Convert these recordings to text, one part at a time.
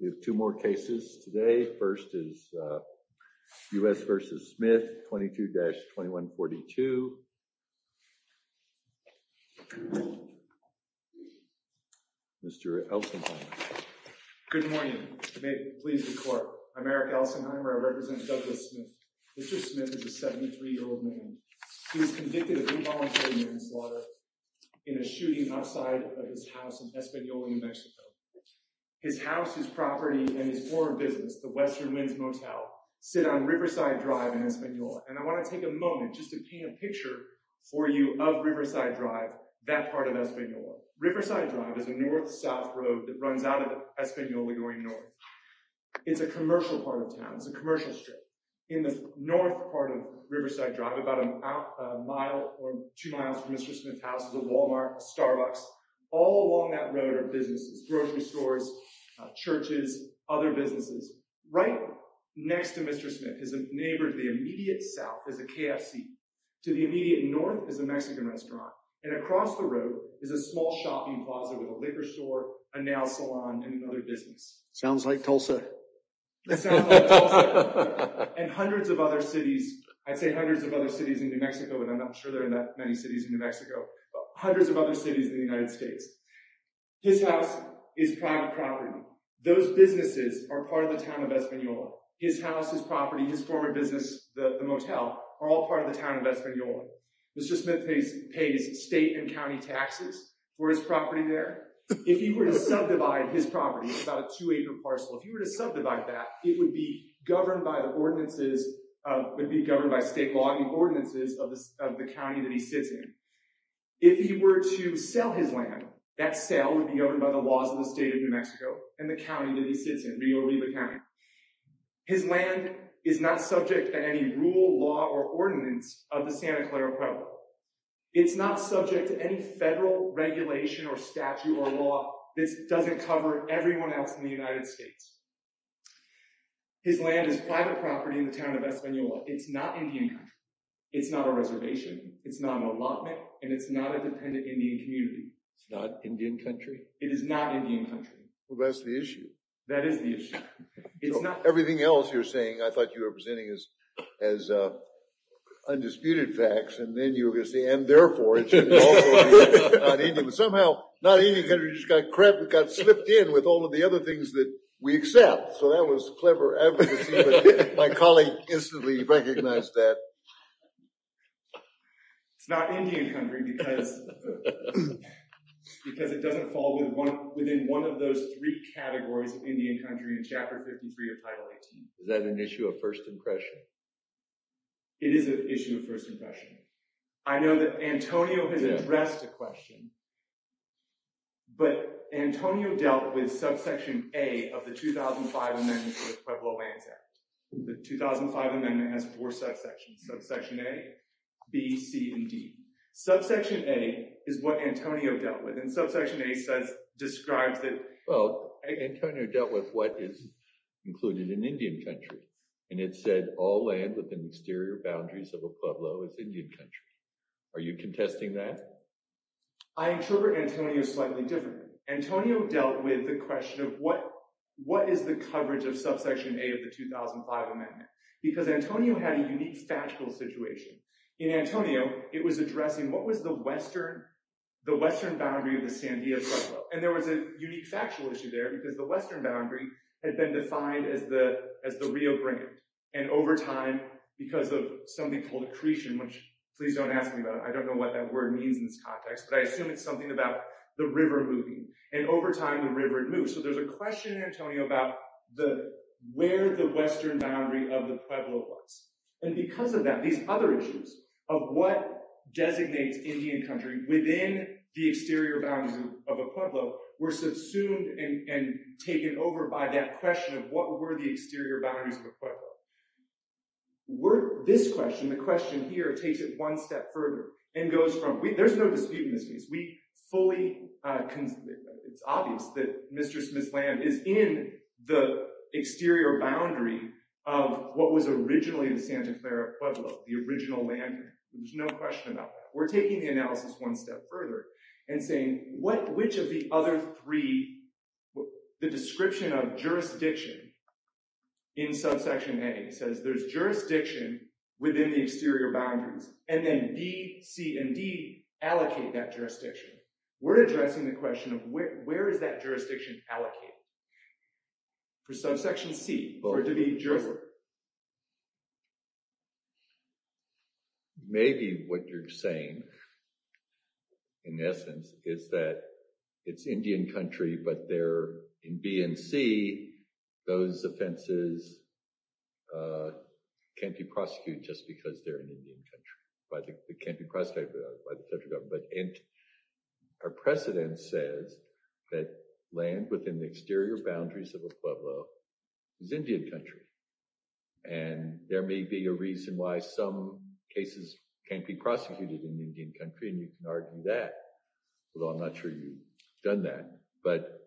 We have two more cases today. First is U.S. v. Smith 22-2142. Mr. Elsenheimer. Good morning. I'm Eric Elsenheimer. I represent Douglas Smith. Mr. Smith is a 73-year-old man. He was convicted of involuntary manslaughter in a shooting outside of his house in Española, New Mexico. His house, his property, and his foreign business, the Western Winds Motel, sit on Riverside Drive in Española. And I want to take a moment just to paint a picture for you of Riverside Drive, that part of Española. Riverside Drive is a north-south road that runs out of Española going north. It's a commercial part of town. It's a commercial strip. In the houses of Walmart, Starbucks, all along that road are businesses, grocery stores, churches, other businesses. Right next to Mr. Smith is a neighbor to the immediate south is a KFC. To the immediate north is a Mexican restaurant. And across the road is a small shopping plaza with a liquor store, a nail salon, and another business. Sounds like Tulsa. And hundreds of other cities, I'd say hundreds of other cities in New Mexico, and I'm not sure there are that many cities in New Mexico, but hundreds of other cities in the United States. His house is private property. Those businesses are part of the town of Española. His house, his property, his former business, the motel, are all part of the town of Española. Mr. Smith pays state and county taxes for his property there. If he were to subdivide his property, it's about a two-acre parcel. If he were to subdivide that, it would be governed by the ordinances of the county that he sits in. If he were to sell his land, that sale would be governed by the laws of the state of New Mexico and the county that he sits in, Rio Oliva County. His land is not subject to any rule, law, or ordinance of the Santa Clara Province. It's not subject to any federal regulation or statute or law. This doesn't cover everyone else in the It's not a reservation. It's not an allotment, and it's not a dependent Indian community. It's not Indian country? It is not Indian country. Well, that's the issue. That is the issue. It's not... Everything else you're saying, I thought you were presenting as undisputed facts, and then you were going to say, and therefore it should also be not Indian. Somehow, not Indian country just got crept, got slipped in with all of the other things that we accept, so that was clever advocacy, but my colleague instantly recognized that. It's not Indian country because it doesn't fall within one of those three categories of Indian country in Chapter 53 of Title 18. Is that an issue of first impression? It is an issue of first impression. I know that Antonio has addressed a question, but Antonio dealt with Subsection A of the 2005 Amendment to the Pueblo Lands Act. The 2005 Amendment has four subsections, Subsection A, B, C, and D. Subsection A is what Antonio dealt with, and Subsection A describes that... Well, Antonio dealt with what is included in Indian country, and it said all land within exterior boundaries of a Pueblo is Indian country. Are you contesting that? I interpret Antonio slightly differently. Antonio dealt with the question of what is the coverage of Subsection A of the 2005 Amendment, because Antonio had a unique factual situation. In Antonio, it was addressing what was the western boundary of the Sandia Pueblo, and there was a unique factual issue there because the western boundary had been defined as the Rio Grande, and over time, because of something called accretion, which please don't ask me about it, I don't know what that word means in this context, but I assume it's something about the river moving, and over time, the river had moved. So there's a question in Antonio about where the western boundary of the Pueblo was, and because of that, these other issues of what designates Indian country within the exterior boundaries of a Pueblo were subsumed and taken over by that question of what were the exterior boundaries of a Pueblo. This question, the question here, takes it one step further and goes from... It's obvious that Mr. Smith's land is in the exterior boundary of what was originally the Santa Clara Pueblo, the original land. There's no question about that. We're taking the analysis one step further and saying which of the other three, the description of jurisdiction in Subsection A says there's jurisdiction within the exterior boundaries, and then B, C, and D allocate that jurisdiction. We're addressing the question of where is that jurisdiction allocated? For Subsection C, for it to be jurisdiction. Maybe what you're saying, in essence, is that it's Indian country, but there in B and C, those offenses can't be prosecuted just because they're in Indian country. It can't be prosecuted by the federal government, but our precedent says that land within the exterior boundaries of a Pueblo is Indian country, and there may be a reason why some cases can't be prosecuted in Indian country, and you can argue that, although I'm not sure you've done that, but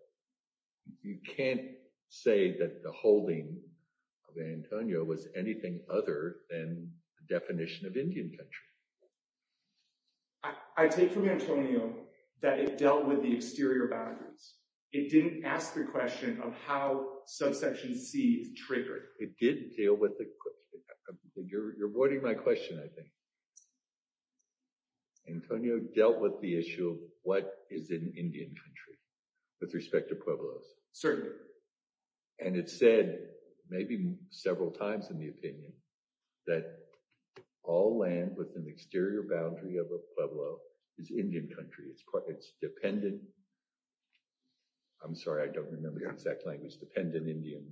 you can't say that the holding of Antonio was anything other than the definition of Indian country. I take from Antonio that it dealt with the exterior boundaries. It didn't ask the question of how Subsection C triggered. It did deal with the... You're avoiding my question, I think. Antonio dealt with the issue of what is an Indian country with respect to Pueblos. Certainly. And it said, maybe several times in the opinion, that all land within the exterior boundary of a Pueblo is Indian country. It's dependent... I'm sorry, I don't remember the exact language. Dependent Indian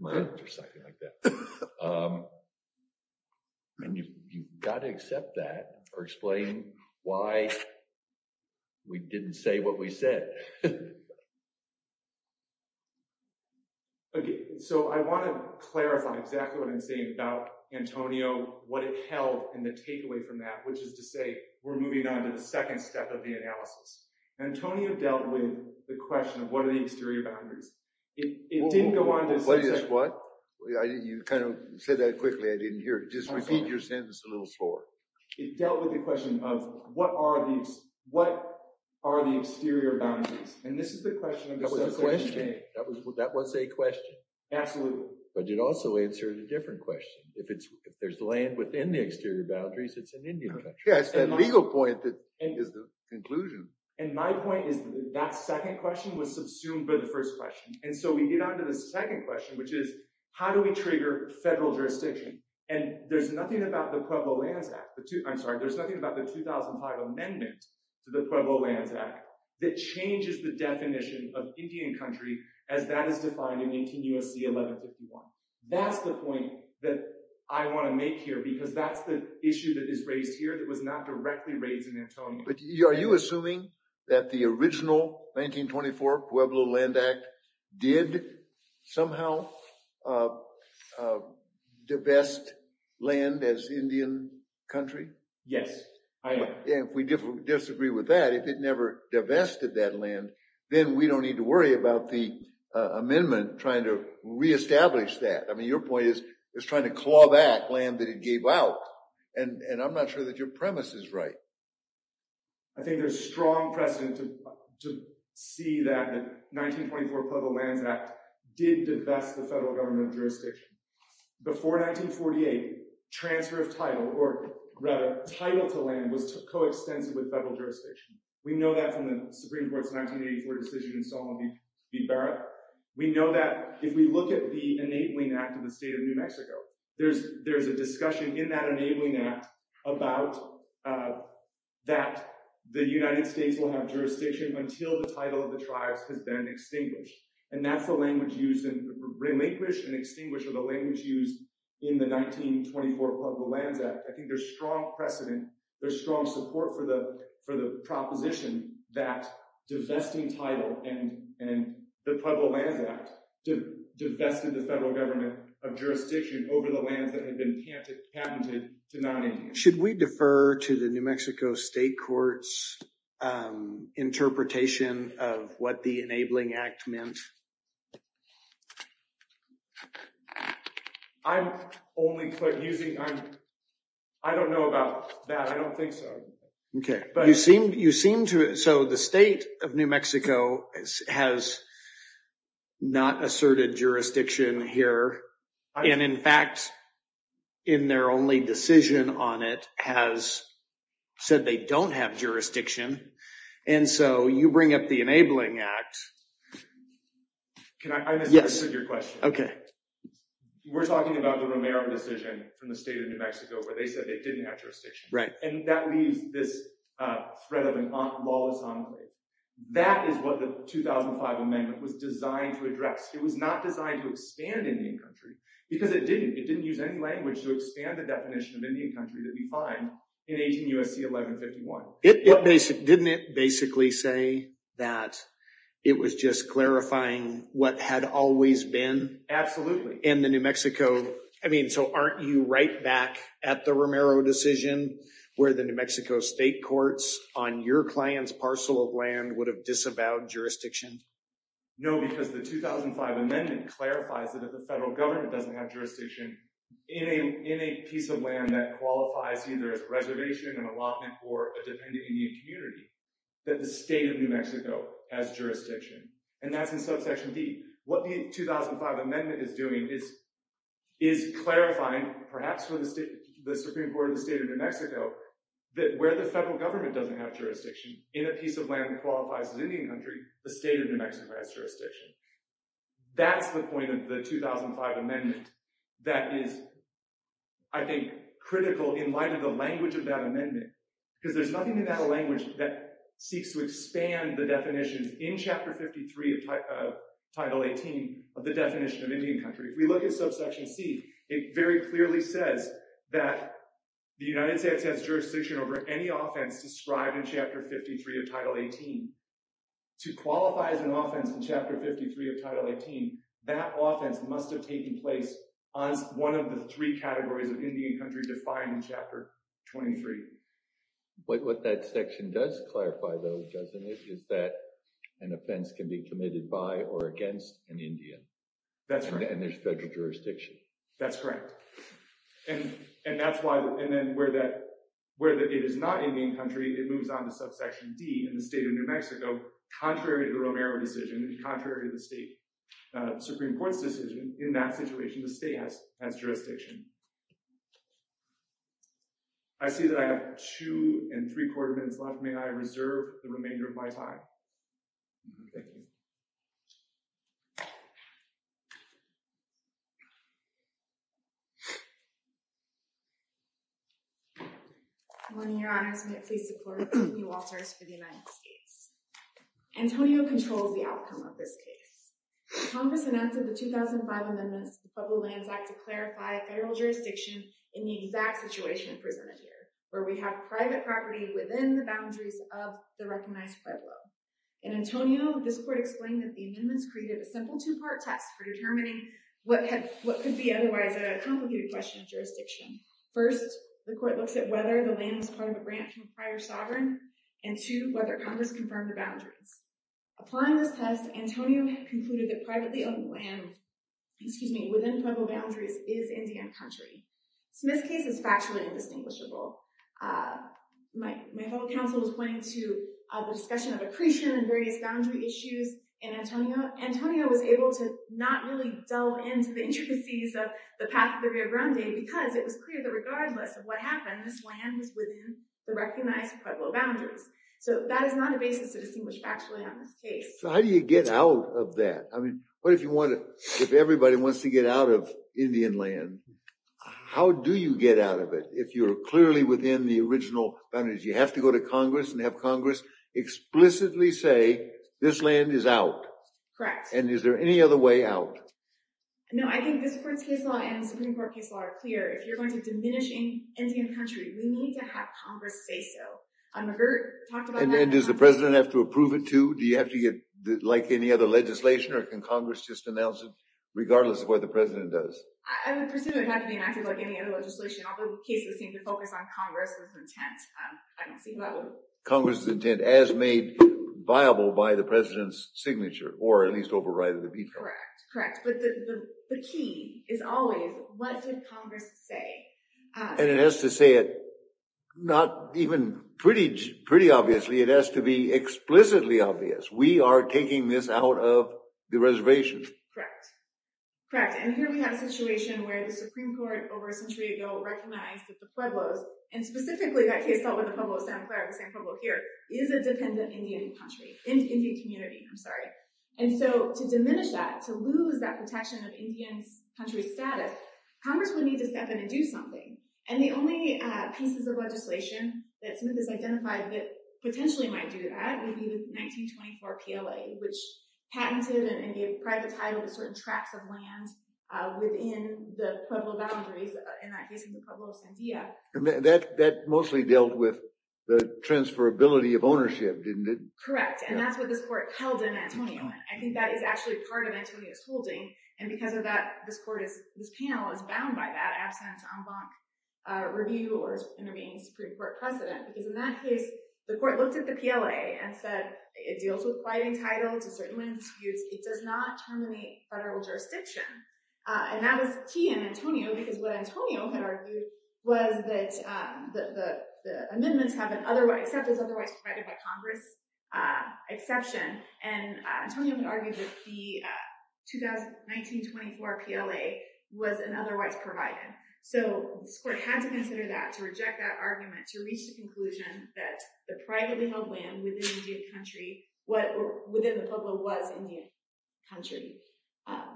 land or something like that. And you've got to accept that or explain why we didn't say what we said. Okay. So I want to clarify exactly what I'm saying about Antonio, what it held, and the takeaway from that, which is to say we're moving on to the second step of the analysis. Antonio dealt with the question of what are the exterior boundaries. It didn't go on to... What is what? You kind of said that quickly. I didn't hear it. Just repeat your sentence a little slower. It dealt with the question of what are the exterior boundaries. And this is the question of the Subsection A. That was a question. Absolutely. But it also answered a different question. If there's land within the exterior boundaries, it's an Indian country. Yeah, it's that legal point that is the conclusion. And my point is that second question was subsumed by the first question. And so we get on to the second question, which is how do we trigger federal jurisdiction? And there's nothing about the Pueblo Lands Act. I'm sorry. There's nothing about the 2005 amendment to the Pueblo Lands Act that changes the definition of Indian country as that is defined in 18 U.S.C. 1151. That's the point that I want to make here because that's the issue that is raised here that was not directly raised in Antonio. Are you assuming that the original 1924 Pueblo Land Act did somehow divest land as Indian country? Yes, I am. And if we disagree with that, if it never divested that land, then we don't need to worry about the amendment trying to reestablish that. I mean, your point is it's trying to claw back land that it gave out. And I'm not sure that your premise is right. I think there's strong precedent to see that the 1924 Pueblo Lands Act did divest the federal government jurisdiction. Before 1948, transfer of title or rather title to land was coextensive with federal jurisdiction. We know that from the Supreme Court's 1984 decision in Sonoma v. Barrett. We know that if we look at the enabling act of the state of New Mexico, there's a discussion in that enabling act about that the United States will have jurisdiction until the title of the tribes has been extinguished. And that's the language used in relinquish and extinguish are the language used in the 1924 Pueblo Lands Act. I think there's strong precedent, there's strong support for the proposition that divesting title and the Pueblo Lands Act divested the federal government of jurisdiction over the 1924 Pueblo Lands Act. Should we defer to the New Mexico state courts interpretation of what the enabling act meant? I'm only using I don't know about that. I don't think so. Okay, but you seem to so the state of New Mexico has not asserted jurisdiction here. And in fact, in their only decision on it has said they don't have jurisdiction. And so you bring up the enabling act. Can I answer your question? Okay. We're talking about the Romero decision from the state of New Mexico where they said they didn't have jurisdiction. Right. And that leaves this threat of a lawless enclave. That is what the 2005 amendment was designed to address. It was not designed to expand Indian country because it didn't. It didn't use any language to expand the definition of Indian country that we find in 18 U.S.C. 1151. Didn't it basically say that it was just clarifying what had always been? Absolutely. In the New Mexico. I mean, so aren't you right back at the Romero decision where the New Mexico state courts on your client's parcel of land would have disavowed jurisdiction? No, because the 2005 amendment clarifies that if the federal government doesn't have jurisdiction in a piece of land that qualifies either as reservation and allotment for a dependent Indian community, that the state of New Mexico has jurisdiction. And that's in subsection D. What the 2005 amendment is doing is clarifying, perhaps for the Supreme Court of the state of New Mexico, that where the federal government doesn't have jurisdiction in a piece of land that qualifies as Indian country, the state of New Mexico has jurisdiction. That's the point of the 2005 amendment that is, I think, critical in light of the language of that amendment. Because there's nothing in that language that seeks to expand the definitions in chapter 53 of title 18 of the definition of Indian country. If we look at subsection C, it very clearly says that the United States has jurisdiction over any offense described in chapter 53 of title 18. To qualify as an offense in chapter 53 of title 18, that offense must have taken place on one of the three categories of Indian country defined in chapter 23. What that section does clarify, though, doesn't it, is that an offense can be committed by or against an Indian. That's right. And there's federal jurisdiction. That's correct. And that's why, and then where it is not Indian country, it moves on to subsection D in the state of New Mexico, contrary to the Romero decision and contrary to the state Supreme Court's decision, in that situation, the state has jurisdiction. I see that I have two and three quarter minutes left. May I reserve the remainder of my time? Thank you. Good morning, Your Honors. May it please support you officers for the United States. Antonio controls the outcome of this case. Congress announced in the 2005 amendments to the Pueblo Lands Act to clarify federal jurisdiction in the exact situation presented here, where we have private property within the boundaries of the recognized Pueblo. In Antonio, this court explained that the amendments created a simple two-part test for determining what could be otherwise a complicated question of jurisdiction. First, the court looks at whether the land was part of a branch of prior sovereign, and two, whether Congress confirmed the boundaries. Applying this test, Antonio concluded that privately owned land, excuse me, within Pueblo boundaries is Indian country. So this case is factually indistinguishable. My fellow counsel was pointing to the discussion of accretion and various boundary issues in the case, but I did not really delve into the intricacies of the path of the Rio Grande because it was clear that regardless of what happened, this land was within the recognized Pueblo boundaries. So that is not a basis to distinguish factually on this case. So how do you get out of that? I mean, what if you want to, if everybody wants to get out of Indian land, how do you get out of it if you're clearly within the original boundaries? You have to go to Congress and have Congress explicitly say, this land is out. Correct. And is there any other way out? No, I think this court's case law and the Supreme Court case law are clear. If you're going to diminish Indian country, we need to have Congress say so. I've never talked about that. And does the president have to approve it too? Do you have to get like any other legislation or can Congress just announce it regardless of what the president does? I would presume it would have to be enacted like any other legislation, although cases seem to focus on Congress with intent. I don't see how that would... Congress's intent as made viable by the president's signature or at least overriding the veto. Correct. Correct. But the key is always, what did Congress say? And it has to say it, not even pretty obviously, it has to be explicitly obvious. We are taking this out of the reservation. Correct. Correct. And here we have a situation where the Supreme Court over a century ago recognized that the Pueblo of Santa Clara, the same Pueblo here, is a dependent Indian country, Indian community. I'm sorry. And so to diminish that, to lose that protection of Indian country status, Congress would need to step in and do something. And the only pieces of legislation that Smith has identified that potentially might do that would be the 1924 PLA, which patented and gave private title to certain tracts of land within the Pueblo boundaries, in that case in the Pueblo of Sandia. That mostly dealt with the transferability of ownership, didn't it? Correct. And that's what this court held in Antonio. I think that is actually part of Antonio's holding. And because of that, this panel is bound by that absent en banc review or intervening Supreme Court precedent. Because in that case, the court looked at the PLA and said it deals with private title to certain land disputes. It does not terminate federal jurisdiction. And that was key in Antonio, because what Antonio had argued was that the amendments have an except is otherwise provided by Congress exception. And Antonio had argued that the 1924 PLA was an otherwise provided. So this court had to consider that, to reject that argument, to reach the conclusion that the privately held land within the Pueblo was Indian country.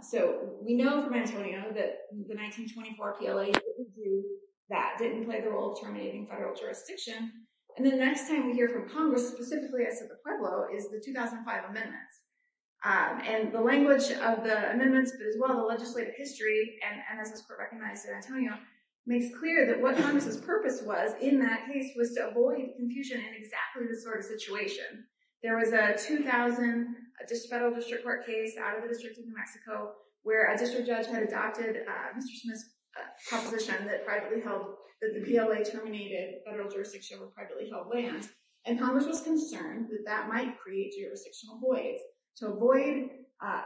So we know from Antonio that the 1924 PLA didn't do that, didn't play the role of terminating federal jurisdiction. And the next time we hear from Congress, specifically as to the Pueblo, is the 2005 amendments. And the language of the amendments, but as well the legislative history, and as this court recognized in Antonio, makes clear that what Congress's purpose was in that case was to avoid confusion in exactly this sort of situation. There was a 2000 federal district court case out of the district of New Mexico, where a district judge had adopted Mr. Smith's proposition that privately held, that the PLA terminated federal jurisdiction over privately held land. And Congress was concerned that that might create jurisdictional voids. To avoid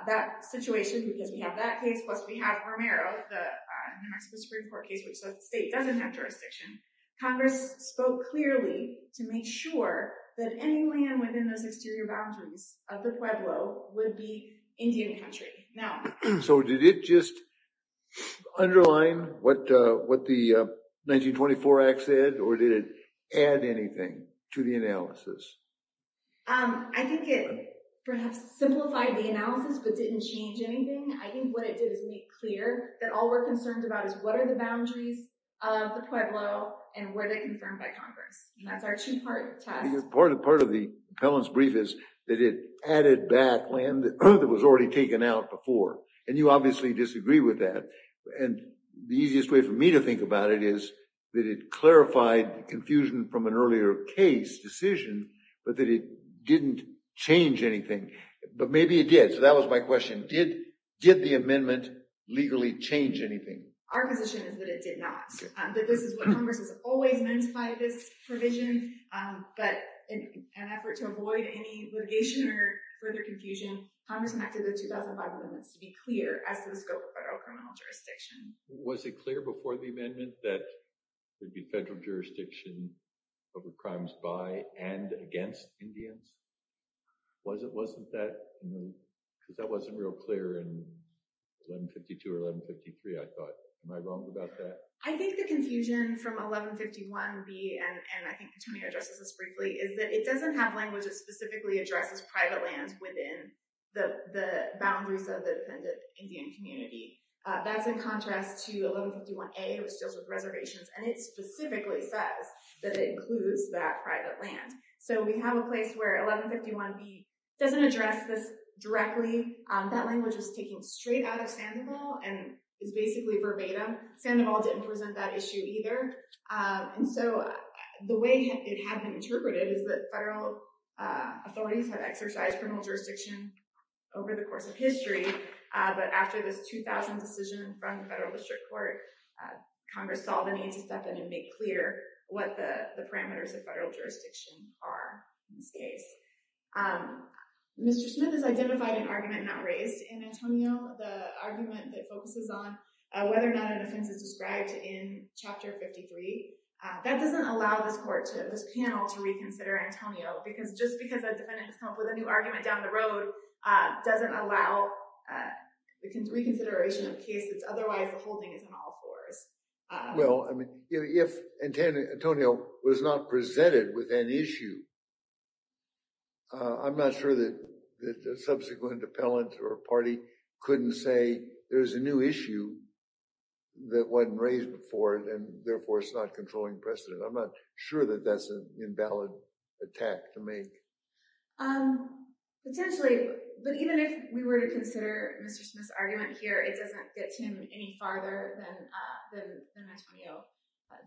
that situation, because we have that case, plus we have Romero, the New Mexico Supreme Court case, which the state doesn't have jurisdiction, Congress spoke clearly to make sure that any land within those exterior boundaries of the Pueblo would be Indian country. So did it just underline what the 1924 Act said, or did it add anything to the analysis? I think it perhaps simplified the analysis, but didn't change anything. I think what it did is make clear that all we're concerned about is what are the boundaries of the Pueblo, and were they confirmed by Congress? And that's our two-part test. Part of the appellant's brief is that it added back land that was already taken out before. And you obviously disagree with that. And the easiest way for me to think about it is that it clarified confusion from an earlier case decision, but that it didn't change anything. But maybe it did. So that was my question. Did the amendment legally change anything? Our position is that it did not. That this is what Congress has always meant by this provision, but in an effort to avoid any litigation or further confusion, Congress enacted the 2005 amendments to be clear as to the scope of federal criminal jurisdiction. Was it clear before the amendment that there'd be federal jurisdiction over crimes by and against Indians? Wasn't that moved? Because that wasn't real clear in 1152 or 1153, I thought. Am I wrong about that? I think the confusion from 1151B, and I think Tony addresses this briefly, is that it doesn't have language that specifically addresses private lands within the boundaries of the independent Indian community. That's in contrast to 1151A, which deals with reservations. And it specifically says that it includes that private land. So we have a place where 1151B doesn't address this directly. That language is taken straight out of Sandoval and is basically verbatim. Sandoval didn't present that issue either. And so the way it had been interpreted is that federal authorities had exercised criminal jurisdiction over the course of history, but after this 2000 decision from the federal district court, Congress saw the need to step in and make clear what the parameters of federal jurisdiction are in this case. Mr. Smith has identified an argument not raised in Antonio, the argument that focuses on whether or not an offense is described in Chapter 53. That doesn't allow this panel to reconsider Antonio, because just because a defendant has come up with a new argument down the road doesn't allow the reconsideration of cases. Otherwise, the whole thing is on all fours. Well, I mean, if Antonio was not presented with an issue, I'm not sure that the subsequent appellant or party couldn't say there's a new issue that wasn't raised before, and therefore it's not controlling precedent. I'm not sure that that's an invalid attack to make. Potentially, but even if we were to consider Mr. Smith's argument here, it doesn't get to him any farther than Antonio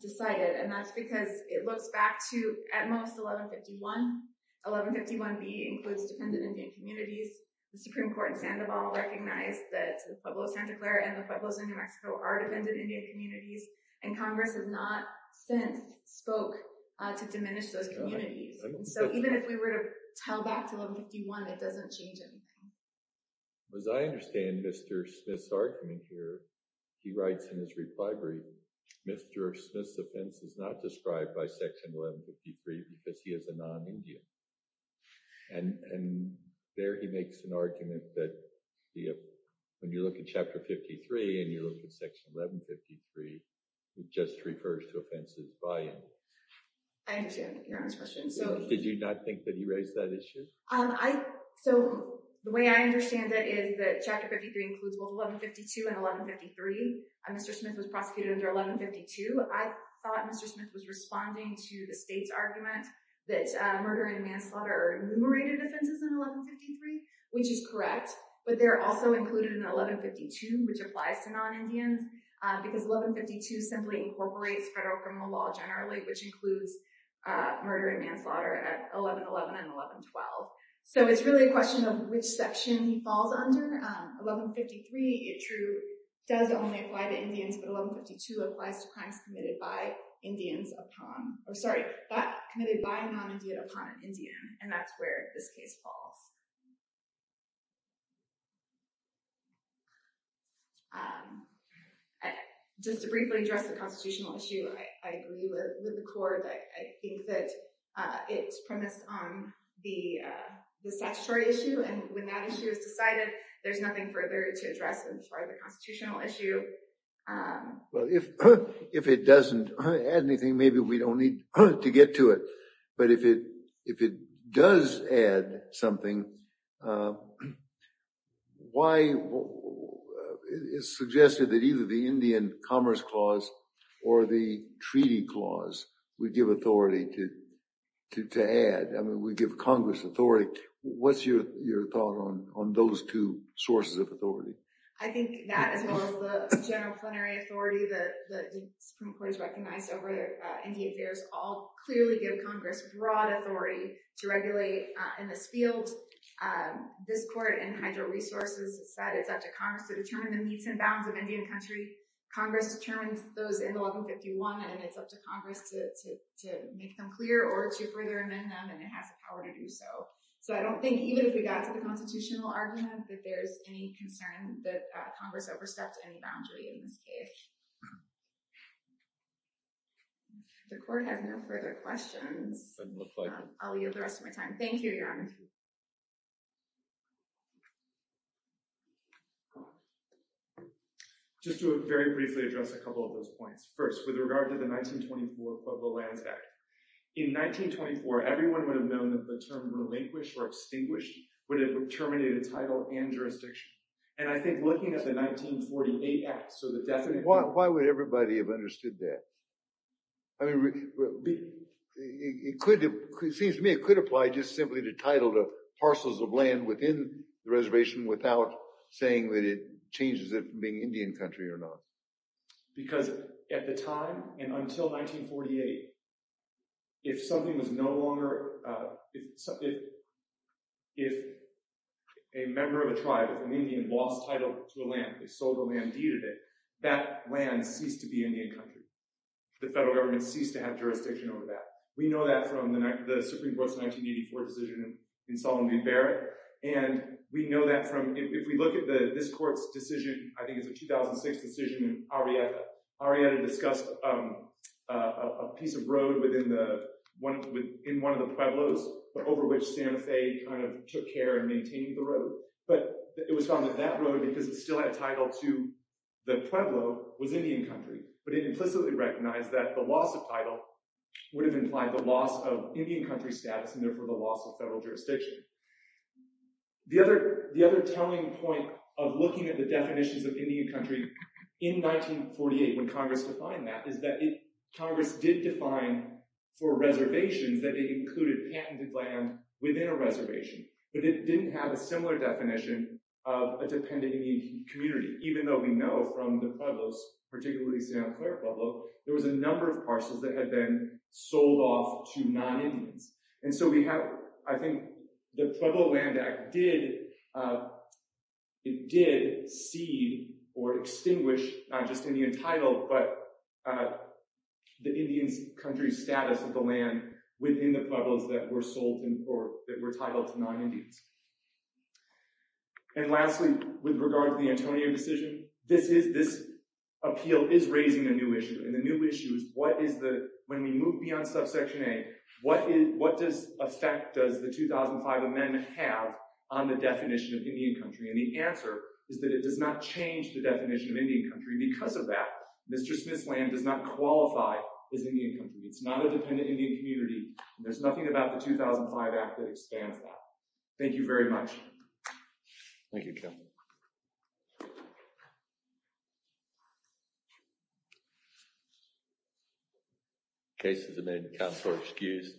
decided, and that's because it looks back to, at most, 1151. 1151B includes dependent Indian communities. The Supreme Court in Sandoval recognized that the Pueblo of Santa Clara and the Pueblos of New Mexico are dependent Indian communities, and Congress has not since spoke to diminish those communities. So even if we were to tell back to 1151, it doesn't change anything. As I understand Mr. Smith's argument here, he writes in his reply brief, Mr. Smith's offense is not described by Section 1153 because he is a non-Indian. And there he makes an argument that when you look at Chapter 53 and you look at Section 1153, it just refers to offenses by Indians. I understand your honest question. Did you not think that he raised that issue? So the way I understand it is that Chapter 53 includes both 1152 and 1153. Mr. Smith was prosecuted under 1152. I thought Mr. Smith was responding to the state's argument that murder and manslaughter are enumerated offenses in 1153, which is correct, but they're also included in 1152, which applies to non-Indians, because 1152 simply incorporates federal criminal law generally, which includes murder and manslaughter at 1111 and 1112. So it's really a question of which section he falls under. 1153, it true, does only apply to Indians, but 1152 applies to crimes committed by Indians upon, or sorry, committed by a non-Indian upon an Indian. And that's where this case falls. Just to briefly address the constitutional issue, I agree with the court. I think that it's premised on the statutory issue, and when that issue is decided, there's nothing further to address as far as the constitutional issue. Well, if it doesn't add anything, maybe we don't need to get to it. But if it does add something, it's suggested that either the Indian Commerce Clause or the Treaty Clause would give authority to add. I mean, would give Congress authority. What's your thought on those two sources of authority? I think that, as well as the general plenary authority that the Supreme Court has recognized over Indian affairs, all clearly give Congress broad authority to regulate in this field. This court in Hydro Resources has said it's up to Congress to determine the meets and bounds of Indian country. Congress determines those in 1151, and it's up to Congress to make them clear or to further amend them, and it has the power to do so. So I don't think, even if we got to the constitutional argument, that there's any concern that Congress overstepped any boundary in this case. The court has no further questions. Doesn't look like it. I'll yield the rest of my time. Thank you, Your Honor. Just to very briefly address a couple of those points. First, with regard to the 1924 Pueblo Lands Act. In 1924, everyone would have known that the term relinquished or extinguished would have terminated title and jurisdiction. And I think looking at the 1948 Act, so the definition— Why would everybody have understood that? I mean, it seems to me it could apply just simply to title to parcels of land within the reservation without saying that it changes it from being Indian country or not. Because at the time and until 1948, if something was no longer— if a member of a tribe, an Indian, lost title to a land, they sold the land, deeded it, that land ceased to be Indian country. The federal government ceased to have jurisdiction over that. We know that from the Supreme Court's 1984 decision in Solomon v. Barrett. And we know that from— if we look at this court's decision, I think it's a 2006 decision in Arrieta. Arrieta discussed a piece of road within one of the Pueblos over which Santa Fe kind of took care of maintaining the road. But it was found that that road, because it still had title to the Pueblo, was Indian country. But it implicitly recognized that the loss of title would have implied the loss of Indian country status and therefore the loss of federal jurisdiction. The other telling point of looking at the definitions of Indian country in 1948 when Congress defined that is that Congress did define for reservations that it included patented land within a reservation. But it didn't have a similar definition of a dependent Indian community, even though we know from the Pueblos, particularly Santa Clara Pueblo, there was a number of parcels that had been sold off to non-Indians. And so we have, I think, the Pueblo Land Act did cede or extinguish not just Indian title but the Indian country status of the land within the Pueblos that were sold in court, that were titled to non-Indians. And lastly, with regard to the Antonio decision, this appeal is raising a new issue. And the new issue is what is the, when we move beyond subsection A, what effect does the 2005 amendment have on the definition of Indian country? And the answer is that it does not change the definition of Indian country. Because of that, Mr. Smith's land does not qualify as Indian country. It's not a dependent Indian community. And there's nothing about the 2005 act that expands that. Thank you. Thank you very much. Thank you, Ken. Cases are made. Counsel are excused.